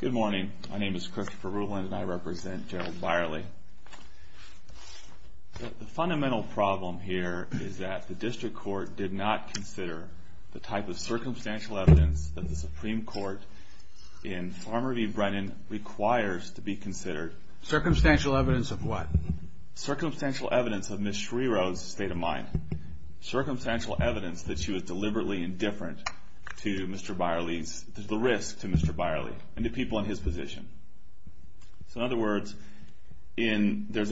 Good morning. My name is Christopher Ruland, and I represent Gerald Beyerly. The fundamental problem here is that the district court did not consider the type of circumstantial evidence that the Supreme Court in Farmer v. Brennan requires to be considered. Circumstantial evidence of what? Circumstantial evidence of Ms. Schriro's state of mind. Circumstantial evidence that she was deliberately indifferent to Mr. Beyerly's, the risk to Mr. Beyerly and the people in his position. So in other words, I think there's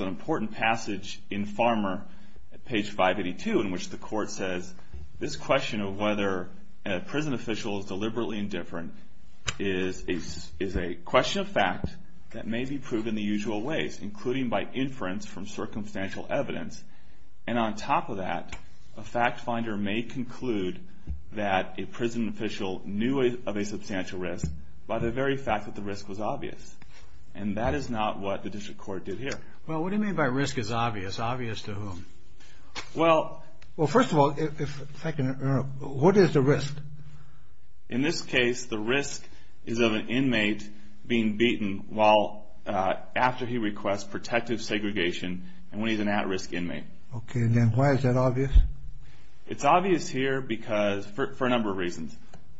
an important passage in Farmer, page 582, in which the court says, this question of whether a prison official is deliberately indifferent is a question of fact that may be proved in the usual ways, including by inference from circumstantial evidence. And on top of that, a fact finder may conclude that a prison official knew of a substantial risk by the very fact that the risk was obvious. And that is not what the district court did here. Well, what do you mean by risk is obvious? Obvious to whom? Well, first of all, what is the risk? In this case, the risk is of an inmate being beaten while, after he requests protective segregation, and when he's an at-risk inmate. Okay, and then why is that obvious? It's obvious here because, for a number of reasons.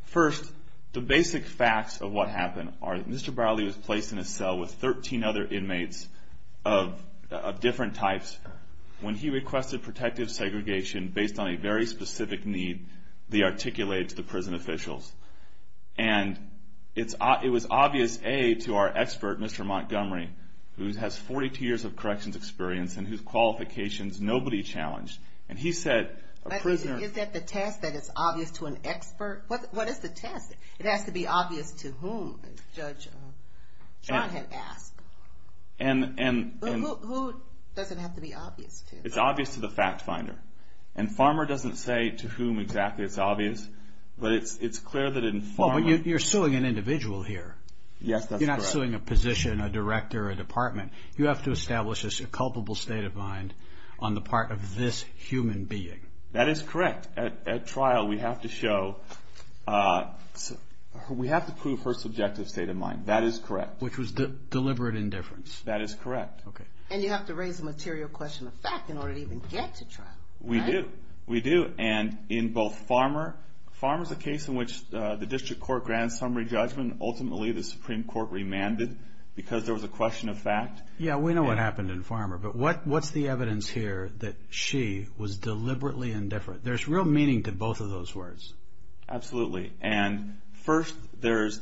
First, the basic facts of what happened are that Mr. Beyerly was placed in a cell with 13 other inmates of different types. When he requested protective segregation, based on a very specific need, they articulated to the prison officials. And it was obvious, A, to our expert, Mr. Montgomery, who has 42 years of corrections experience and whose qualifications nobody challenged. And he said, a prisoner... Is that the test, that it's obvious to an expert? What is the test? It has to be obvious to whom, as Judge John had asked. Who does it have to be obvious to? It's obvious to the fact finder. And Farmer doesn't say to whom exactly it's obvious, but it's clear that in Farmer... Well, but you're suing an individual here. Yes, that's correct. You're suing a position, a director, a department. You have to establish a culpable state of mind on the part of this human being. That is correct. At trial, we have to show... We have to prove her subjective state of mind. That is correct. Which was deliberate indifference. That is correct. Okay. And you have to raise the material question of fact in order to even get to trial, right? We do. We do. And in both Farmer... Farmer's a case in which the district court grants summary judgment. Ultimately, the Supreme Court remanded because there was a question of fact. Yeah, we know what happened in Farmer, but what's the evidence here that she was deliberately indifferent? There's real meaning to both of those words. Absolutely. And first, there's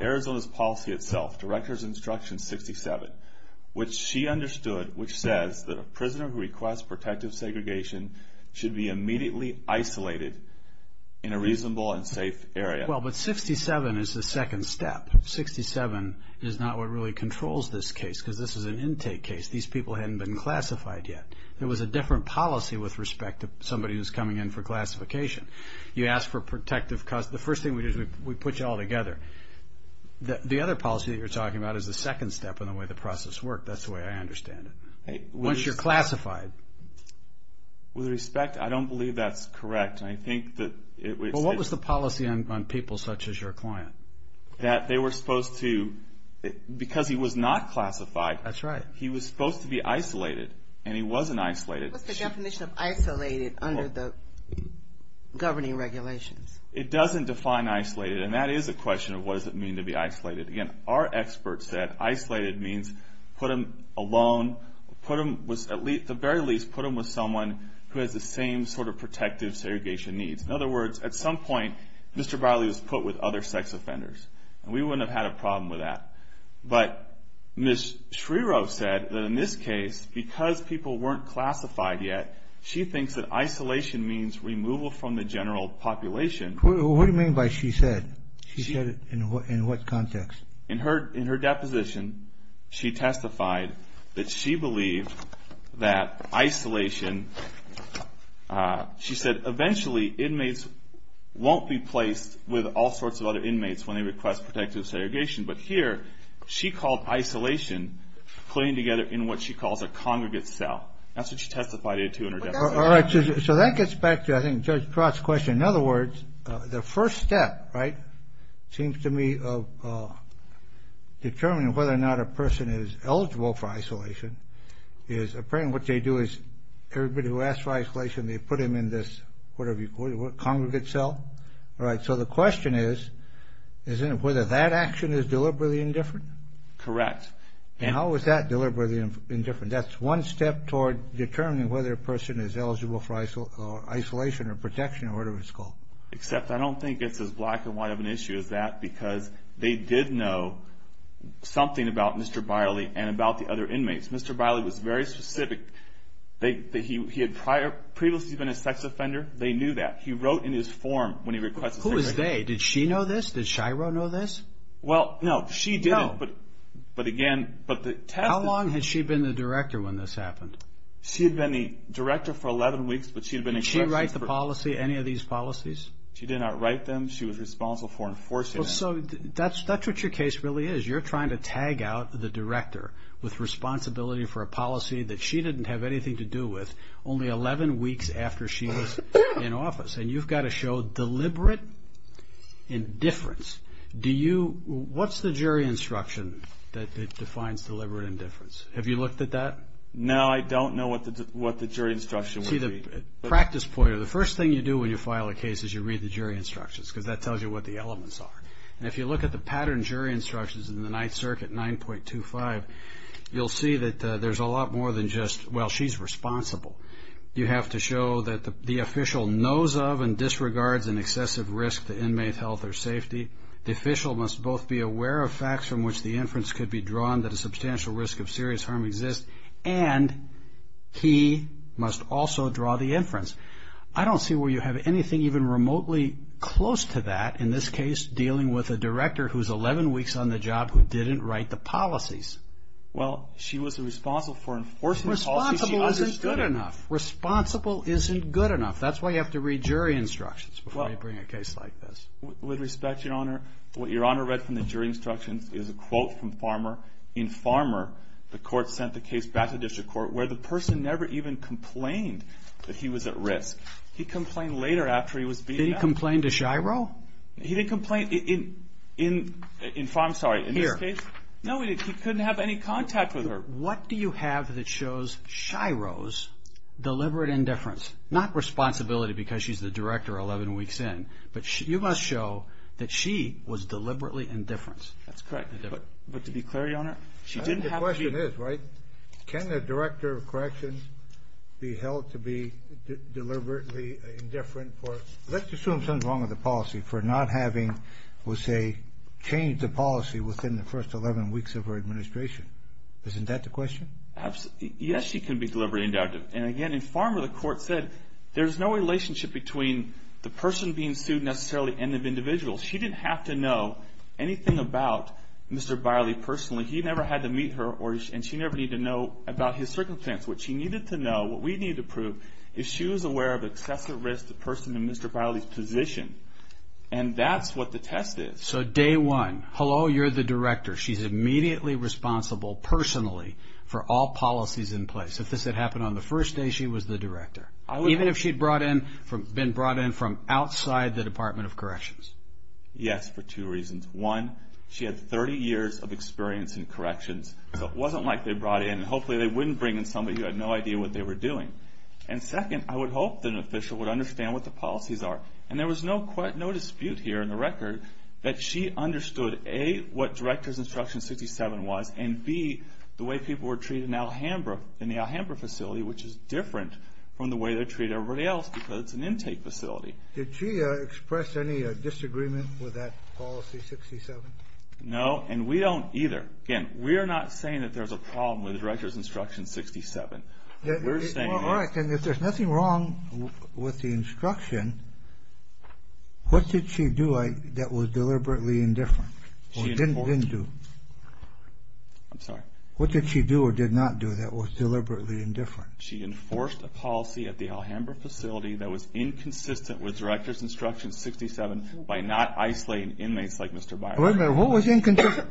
Arizona's policy itself, Director's Instruction 67, which she understood, which says that a prisoner who requests protective segregation should be immediately isolated in a reasonable and safe area. Well, but 67 is the second step. 67 is not what really controls this case, because this is an intake case. These people hadn't been classified yet. There was a different policy with respect to somebody who's coming in for classification. You ask for protective... The first thing we do is we put you all together. The other policy that you're talking about is the second step in the way the process worked. That's the way I understand it. Once you're classified... With respect, I don't believe that's correct. And I think that it... Well, what was the policy on people such as your client? That they were supposed to... Because he was not classified... That's right. He was supposed to be isolated, and he wasn't isolated. What's the definition of isolated under the governing regulations? It doesn't define isolated, and that is a question of what does it mean to be isolated. Again, our experts said isolated means put him alone, put him with at least, at the very least, put him with someone who has the same sort of protective segregation needs. In other words, at some point, Mr. Barley was put with other sex offenders, and we wouldn't have had a problem with that. But Ms. Schreiro said that in this case, because people weren't classified yet, she thinks that isolation means removal from the general population. What do you mean by she said? She said it in what context? In her deposition, she testified that she believed that isolation... She said, eventually, inmates won't be placed with all sorts of other inmates when they request protective segregation. But here, she called isolation, putting together in what she calls a congregate cell. That's what she testified to in her deposition. So that gets back to, I think, Judge Pratt's question. In other words, the first step, right, seems to me of determining whether or not a person is eligible for isolation is apparently what they do is, everybody who asks for isolation, they put them in this whatever you call it, congregate cell. All right, so the question is, isn't it whether that action is deliberately indifferent? Correct. And how is that deliberately indifferent? That's one step toward determining whether a person is eligible for isolation or protection, or whatever it's called. Except I don't think it's as black and white of an issue as that, because they did know something about Mr. Barley and about the other inmates. Mr. Barley was very specific. He had previously been a sex offender. They knew that. He wrote in his form when he requested segregation. Who was they? Did she know this? Did Shiro know this? Well, no. She didn't. But again, but the test is... How long had she been the director when this happened? She had been the director for 11 weeks, but she had been in question for... Did she write the policy, any of these policies? She did not write them. She was responsible for enforcing them. Well, so that's what your case really is. You're trying to tag out the director with responsibility for a policy that she didn't have anything to do with, only 11 weeks after she was in office. And you've got to show deliberate indifference. What's the jury instruction that defines deliberate indifference? Have you looked at that? No, I don't know what the jury instruction would be. See, the practice point, or the first thing you do when you file a case is you read the jury instructions, because that tells you what the elements are. And if you look at the pattern jury instructions in the Ninth Circuit, 9.25, you'll see that there's a lot more than just, well, she's responsible. You have to show that the official knows of and disregards an excessive risk to inmate health or safety. The official must both be aware of facts from which the inference could be drawn that a substantial risk of serious harm exists, and he must also draw the inference. I don't see where you have anything even remotely close to that, in this case, dealing with a director who's 11 weeks on the job who didn't write the policies. Well, she was responsible for enforcing policies she understood. Responsible isn't good enough. Responsible isn't good enough. That's why you have to read jury instructions before you bring a case like this. With respect, Your Honor, what Your Honor read from the jury instructions is a quote from Farmer. In Farmer, the court sent the case back to district court, where the person never even complained that he was at risk. He complained later after he was beaten up. Did he complain to Shiro? He didn't complain in Farmer, I'm sorry, in this case. No, he couldn't have any contact with her. What do you have that shows Shiro's deliberate indifference? Not responsibility because she's the director 11 weeks in, but you must show that she was deliberately indifferent. That's correct. But to be clear, Your Honor, she didn't have a view. The question is, right, can a director of corrections be held to be deliberately indifferent for, let's assume something's wrong with the policy, for not having, we'll say, changed the policy within the first 11 weeks of her administration. Isn't that the question? Yes, she can be deliberately indifferent. And again, in Farmer, the court said there's no relationship between the person being sued necessarily and the individual. She didn't have to know anything about Mr. Biley personally. He never had to meet her, and she never needed to know about his circumstance. What she needed to know, what we needed to prove, is she was aware of excessive risk to the person in Mr. Biley's position. And that's what the test is. So day one, hello, you're the director. She's immediately responsible personally for all policies in place. If this had happened on the first day, she was the director, even if she'd been brought in from outside the Department of Corrections. Yes, for two reasons. One, she had 30 years of experience in corrections, so it wasn't like they brought in, and hopefully they wouldn't bring in somebody who had no idea what they were doing. And second, I would hope that an official would understand what the policies are. And there was no dispute here in the record that she understood, A, what Director's Instruction 67 was, and B, the way people were treated in the Alhambra facility, which is different from the way they treat everybody else, because it's an intake facility. Did she express any disagreement with that policy 67? No, and we don't either. Again, we're not saying that there's a problem with Director's Instruction 67. All right, then if there's nothing wrong with the instruction, what did she do that was deliberately indifferent, or didn't do? I'm sorry? What did she do or did not do that was deliberately indifferent? She enforced a policy at the Alhambra facility that was inconsistent with Director's Instruction 67 by not isolating inmates like Mr. Byron. Wait a minute, what was inconsistent?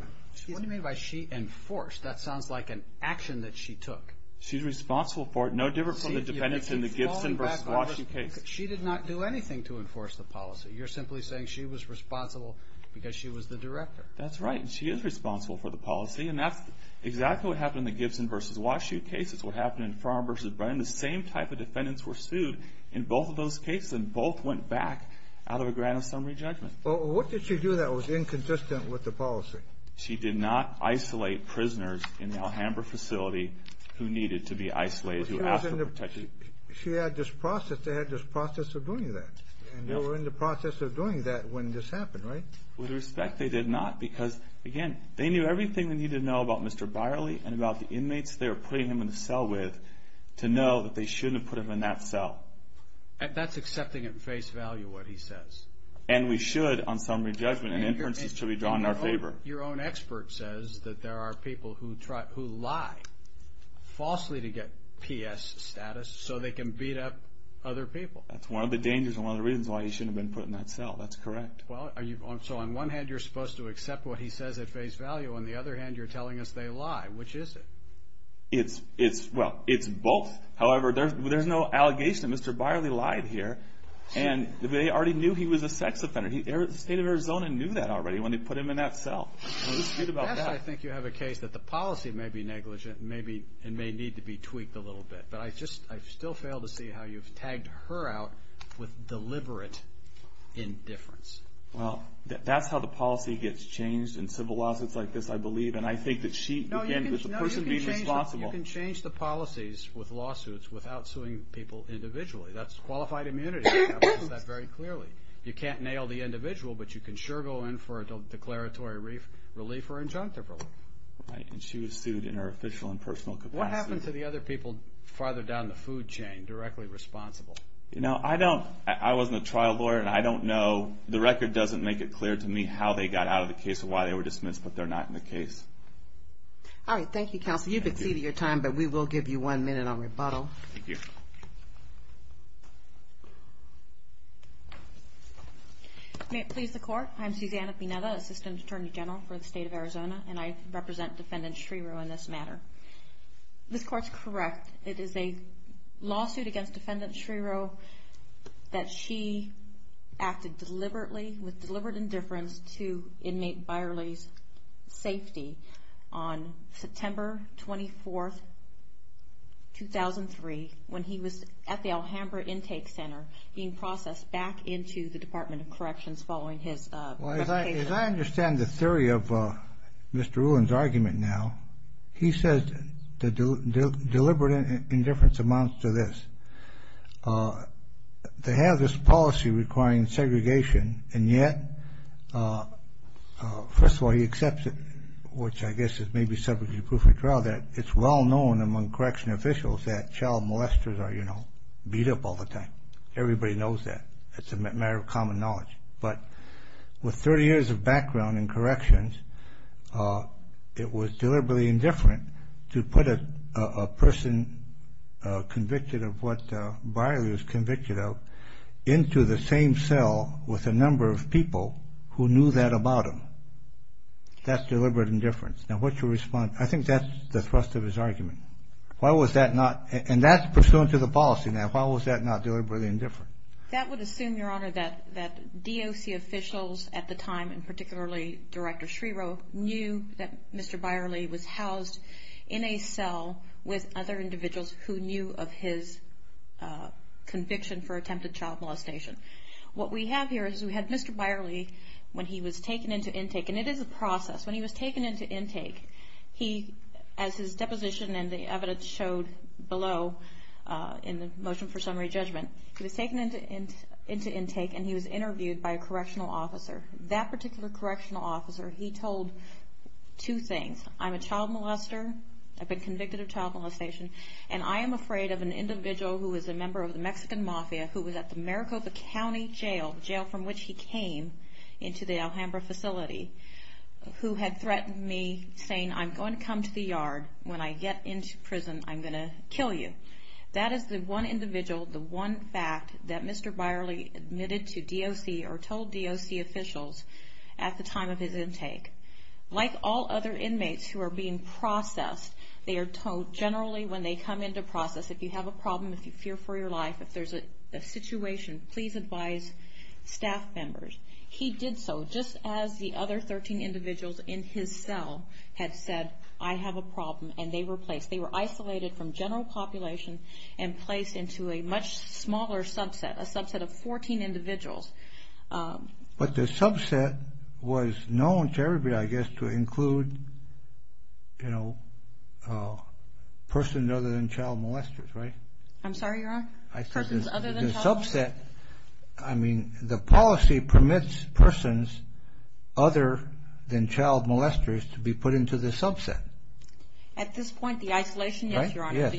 What do you mean by she enforced? That sounds like an action that she took. She's responsible for it, no different from the defendants in the Gibson v. Washu case. She did not do anything to enforce the policy. You're simply saying she was responsible because she was the director. That's right, and she is responsible for the policy, and that's exactly what happened in the Gibson v. Washu case. It's what happened in Farmer v. Byron. The same type of defendants were sued in both of those cases, and both went back out of a grant of summary judgment. Well, what did she do that was inconsistent with the policy? She did not isolate prisoners in the Alhambra facility who needed to be isolated, who asked for protection. She had this process. They had this process of doing that, and they were in the process of doing that when this happened, right? With respect, they did not because, again, they knew everything they needed to know about Mr. Byerly and about the inmates they were putting him in the cell with to know that they shouldn't have put him in that cell. That's accepting at face value what he says. And we should on summary judgment, and inferences should be drawn in our favor. Your own expert says that there are people who lie falsely to get P.S. status so they can beat up other people. That's one of the dangers and one of the reasons why he shouldn't have been put in that cell. That's correct. So on one hand, you're supposed to accept what he says at face value. On the other hand, you're telling us they lie. Which is it? Well, it's both. However, there's no allegation that Mr. Byerly lied here, and they already knew he was a sex offender. The state of Arizona knew that already when they put him in that cell. Yes, I think you have a case that the policy may be negligent, and may need to be tweaked a little bit. But I still fail to see how you've tagged her out with deliberate indifference. Well, that's how the policy gets changed in civil lawsuits like this, I believe. And I think that she, again, is the person being responsible. No, you can change the policies with lawsuits without suing people individually. That's qualified immunity. I've noticed that very clearly. You can't nail the individual, but you can sure go in for a declaratory relief or injunctive relief. Right, and she was sued in her official and personal capacity. What happened to the other people farther down the food chain, directly responsible? You know, I wasn't a trial lawyer, and I don't know. The record doesn't make it clear to me how they got out of the case or why they were dismissed, but they're not in the case. All right, thank you, counsel. You've exceeded your time, but we will give you one minute on rebuttal. Thank you. May it please the Court, I'm Susanna Pineda, Assistant Attorney General for the State of Arizona, and I represent Defendant Shreerow in this matter. This Court's correct. It is a lawsuit against Defendant Shreerow that she acted deliberately with deliberate indifference to inmate Byerly's safety on September 24, 2003, when he was at the Alhambra Intake Center being processed back into the Department of Corrections following his arrest. As I understand the theory of Mr. Ulan's argument now, he says deliberate indifference amounts to this. They have this policy requiring segregation, and yet, first of all, he accepts it, which I guess is maybe subject to proof of trial, that it's well known among correction officials that child molesters are, you know, beat up all the time. Everybody knows that. It's a matter of common knowledge. But with 30 years of background in corrections, it was deliberately indifferent to put a person convicted of what Byerly was convicted of into the same cell with a number of people who knew that about him. That's deliberate indifference. Now, what's your response? I think that's the thrust of his argument. Why was that not, and that's pursuant to the policy now. Why was that not deliberately indifferent? That would assume, Your Honor, that DOC officials at the time, and particularly Director Schreiro, knew that Mr. Byerly was housed in a cell with other individuals who knew of his conviction for attempted child molestation. What we have here is we had Mr. Byerly when he was taken into intake, and it is a process. When he was taken into intake, he, as his deposition and the evidence showed below in the motion for summary judgment, he was taken into intake, and he was interviewed by a correctional officer. That particular correctional officer, he told two things. I'm a child molester. I've been convicted of child molestation, and I am afraid of an individual who is a member of the Mexican Mafia who was at the Maricopa County Jail, the jail from which he came into the Alhambra facility, who had threatened me, saying, I'm going to come to the yard. When I get into prison, I'm going to kill you. That is the one individual, the one fact that Mr. Byerly admitted to DOC or told DOC officials at the time of his intake. Like all other inmates who are being processed, they are told generally when they come into process, if you have a problem, if you fear for your life, if there's a situation, please advise staff members. He did so just as the other 13 individuals in his cell had said, I have a problem, and they were placed. They were isolated from general population and placed into a much smaller subset, a subset of 14 individuals. But the subset was known to everybody, I guess, to include, you know, persons other than child molesters, right? I'm sorry, Your Honor? I said the subset, I mean, the policy permits persons other than child molesters to be put into the subset. At this point, the isolation? Yes, Your Honor.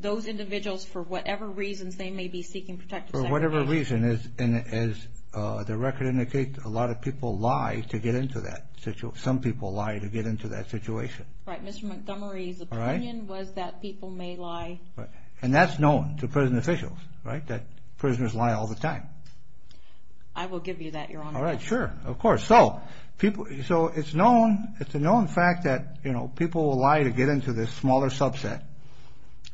Those individuals, for whatever reasons, they may be seeking protection. For whatever reason, as the record indicates, a lot of people lie to get into that situation. Some people lie to get into that situation. Right, Mr. Montgomery's opinion was that people may lie. And that's known to prison officials, right, that prisoners lie all the time. I will give you that, Your Honor. All right, sure, of course. So it's a known fact that, you know, people will lie to get into this smaller subset.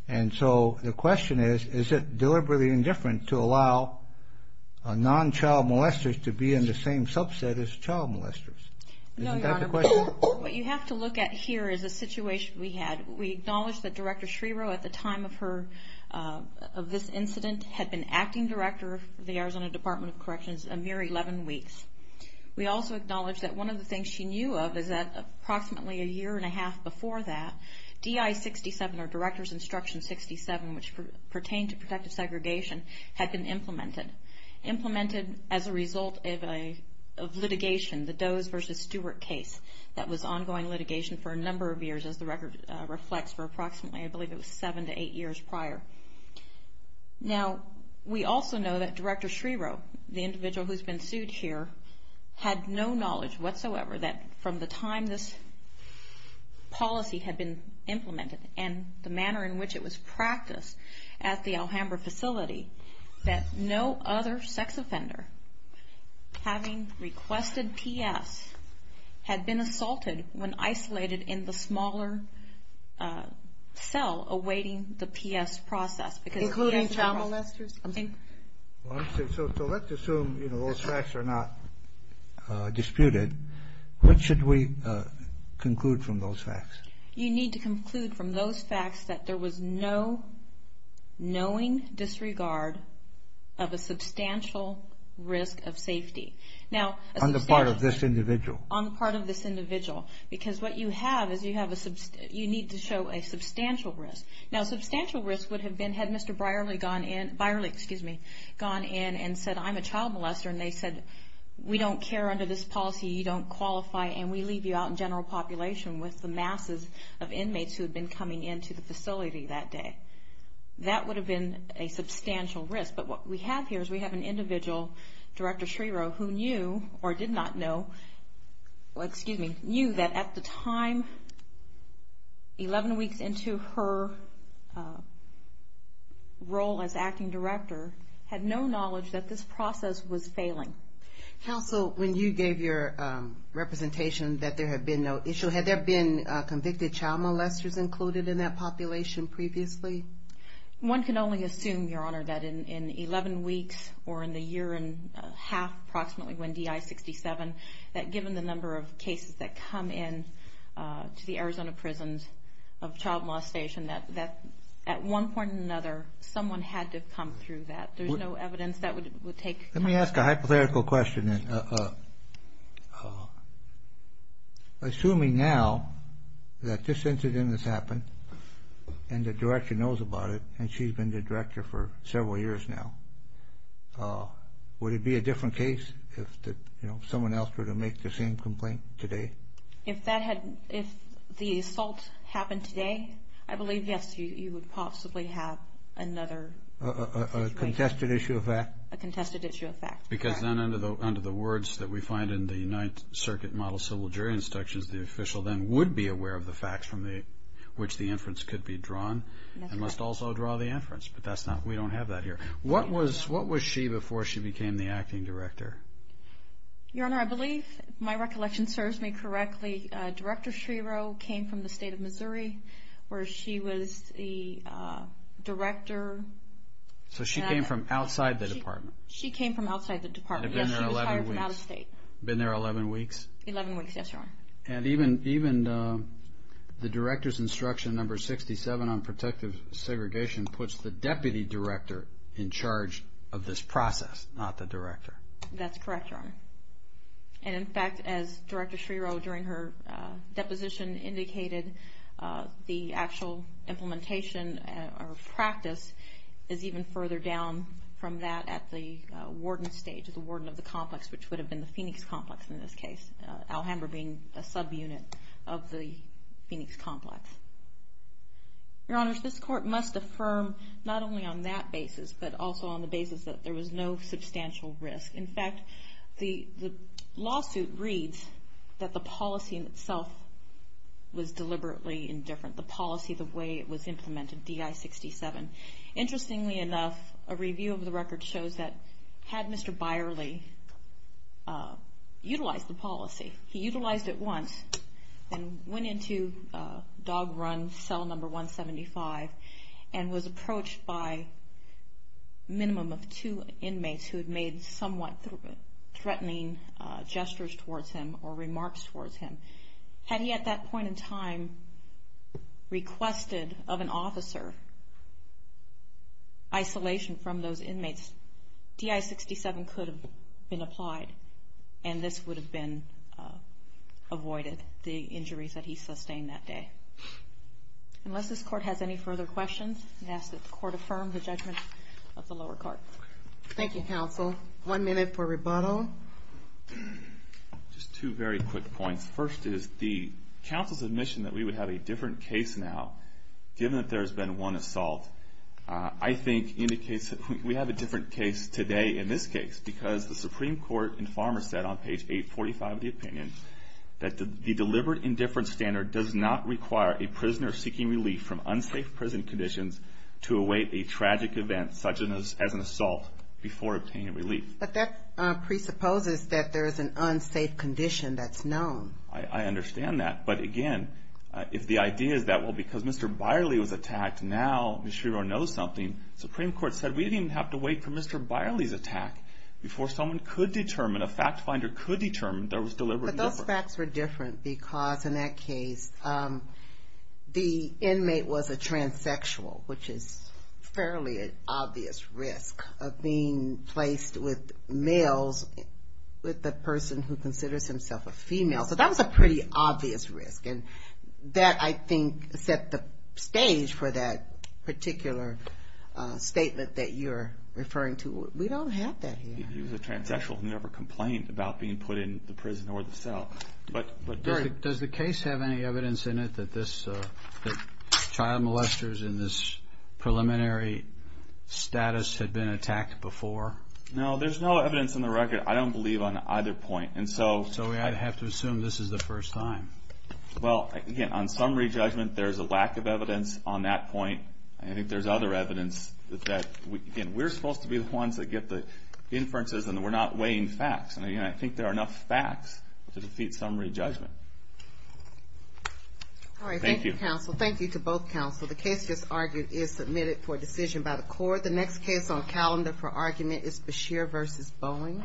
And so the question is, is it deliberately indifferent to allow non-child molesters to be in the same subset as child molesters? No, Your Honor. Is that the question? What you have to look at here is the situation we had. We acknowledge that Director Schreiber at the time of her, of this incident, had been acting director of the Arizona Department of Corrections a mere 11 weeks. We also acknowledge that one of the things she knew of is that approximately a year and a half before that, DI-67, or Director's Instruction 67, which pertained to protective segregation, had been implemented. Implemented as a result of litigation, the Doe's versus Stewart case. That was ongoing litigation for a number of years, as the record reflects, for approximately I believe it was seven to eight years prior. Now, we also know that Director Schreiber, the individual who's been sued here, had no knowledge whatsoever that from the time this policy had been implemented and the manner in which it was practiced at the Alhambra facility, that no other sex offender, having requested PS, had been assaulted when isolated in the smaller cell awaiting the PS process. Including child molesters? So let's assume those facts are not disputed. What should we conclude from those facts? You need to conclude from those facts that there was no knowing disregard of a substantial risk of safety. On the part of this individual? On the part of this individual. Because what you have is you need to show a substantial risk. Now, substantial risk would have been had Mr. Brierley gone in and said, I'm a child molester, and they said, we don't care under this policy, you don't qualify, and we leave you out in general population with the masses of inmates who had been coming into the facility that day. That would have been a substantial risk. But what we have here is we have an individual, Director Schrierow, who knew or did not know that at the time, 11 weeks into her role as acting director, had no knowledge that this process was failing. Counsel, when you gave your representation that there had been no issue, had there been convicted child molesters included in that population previously? One can only assume, Your Honor, that in 11 weeks or in the year and a half approximately when DI-67, that given the number of cases that come in to the Arizona prisons of Child Molestation, that at one point or another someone had to have come through that. There's no evidence that would take time. Let me ask a hypothetical question then. Assuming now that this incident has happened and the director knows about it and she's been the director for several years now, would it be a different case if someone else were to make the same complaint today? If the assault happened today, I believe, yes, you would possibly have another situation. A contested issue of fact? A contested issue of fact. Because then under the words that we find in the Ninth Circuit Model Civil Jury Instructions, the official then would be aware of the facts from which the inference could be drawn and must also draw the inference. But we don't have that here. What was she before she became the acting director? Your Honor, I believe if my recollection serves me correctly, Director Shiro came from the state of Missouri where she was the director. So she came from outside the department. She came from outside the department. Yes, she was hired from out of state. Been there 11 weeks. 11 weeks, yes, Your Honor. And even the Director's Instruction Number 67 on Protective Segregation puts the deputy director in charge of this process, not the director. That's correct, Your Honor. And, in fact, as Director Shiro during her deposition indicated, the actual implementation or practice is even further down from that at the warden stage, the warden of the complex, which would have been the Phoenix complex in this case, Alhambra being a subunit of the Phoenix complex. Your Honors, this court must affirm not only on that basis, but also on the basis that there was no substantial risk. In fact, the lawsuit reads that the policy in itself was deliberately indifferent, the policy, the way it was implemented, DI 67. Interestingly enough, a review of the record shows that had Mr. Byerly utilized the policy, he utilized it once and went into dog run cell number 175 and was approached by a minimum of two inmates who had made somewhat threatening gestures towards him or remarks towards him. Had he at that point in time requested of an officer isolation from those inmates, DI 67 could have been applied and this would have been avoided, the injuries that he sustained that day. Unless this court has any further questions, I ask that the court affirm the judgment of the lower court. Thank you, counsel. One minute for rebuttal. Just two very quick points. First is the counsel's admission that we would have a different case now, given that there has been one assault, I think indicates that we have a different case today in this case because the Supreme Court in Farmer said on page 845 of the opinion that the deliberate indifference standard does not require a prisoner seeking relief from unsafe prison conditions to await a tragic event such as an assault before obtaining relief. But that presupposes that there is an unsafe condition that's known. I understand that. But again, if the idea is that, well, because Mr. Byerly was attacked, now Ms. Shiro knows something, the Supreme Court said we didn't even have to wait for Mr. Byerly's attack before someone could determine, a fact finder could determine there was deliberate indifference. But those facts were different because in that case the inmate was a transsexual, which is a fairly obvious risk of being placed with males with the person who considers himself a female. So that was a pretty obvious risk. And that, I think, set the stage for that particular statement that you're referring to. We don't have that here. He was a transsexual. He never complained about being put in the prison or the cell. Does the case have any evidence in it that child molesters in this preliminary status had been attacked before? No, there's no evidence on the record. I don't believe on either point. So we have to assume this is the first time. Well, again, on summary judgment there's a lack of evidence on that point. I think there's other evidence that we're supposed to be the ones that get the inferences and we're not weighing facts. I think there are enough facts to defeat summary judgment. All right, thank you, counsel. Thank you to both counsel. The case just argued is submitted for decision by the court. The next case on calendar for argument is Beshear v. Boeing.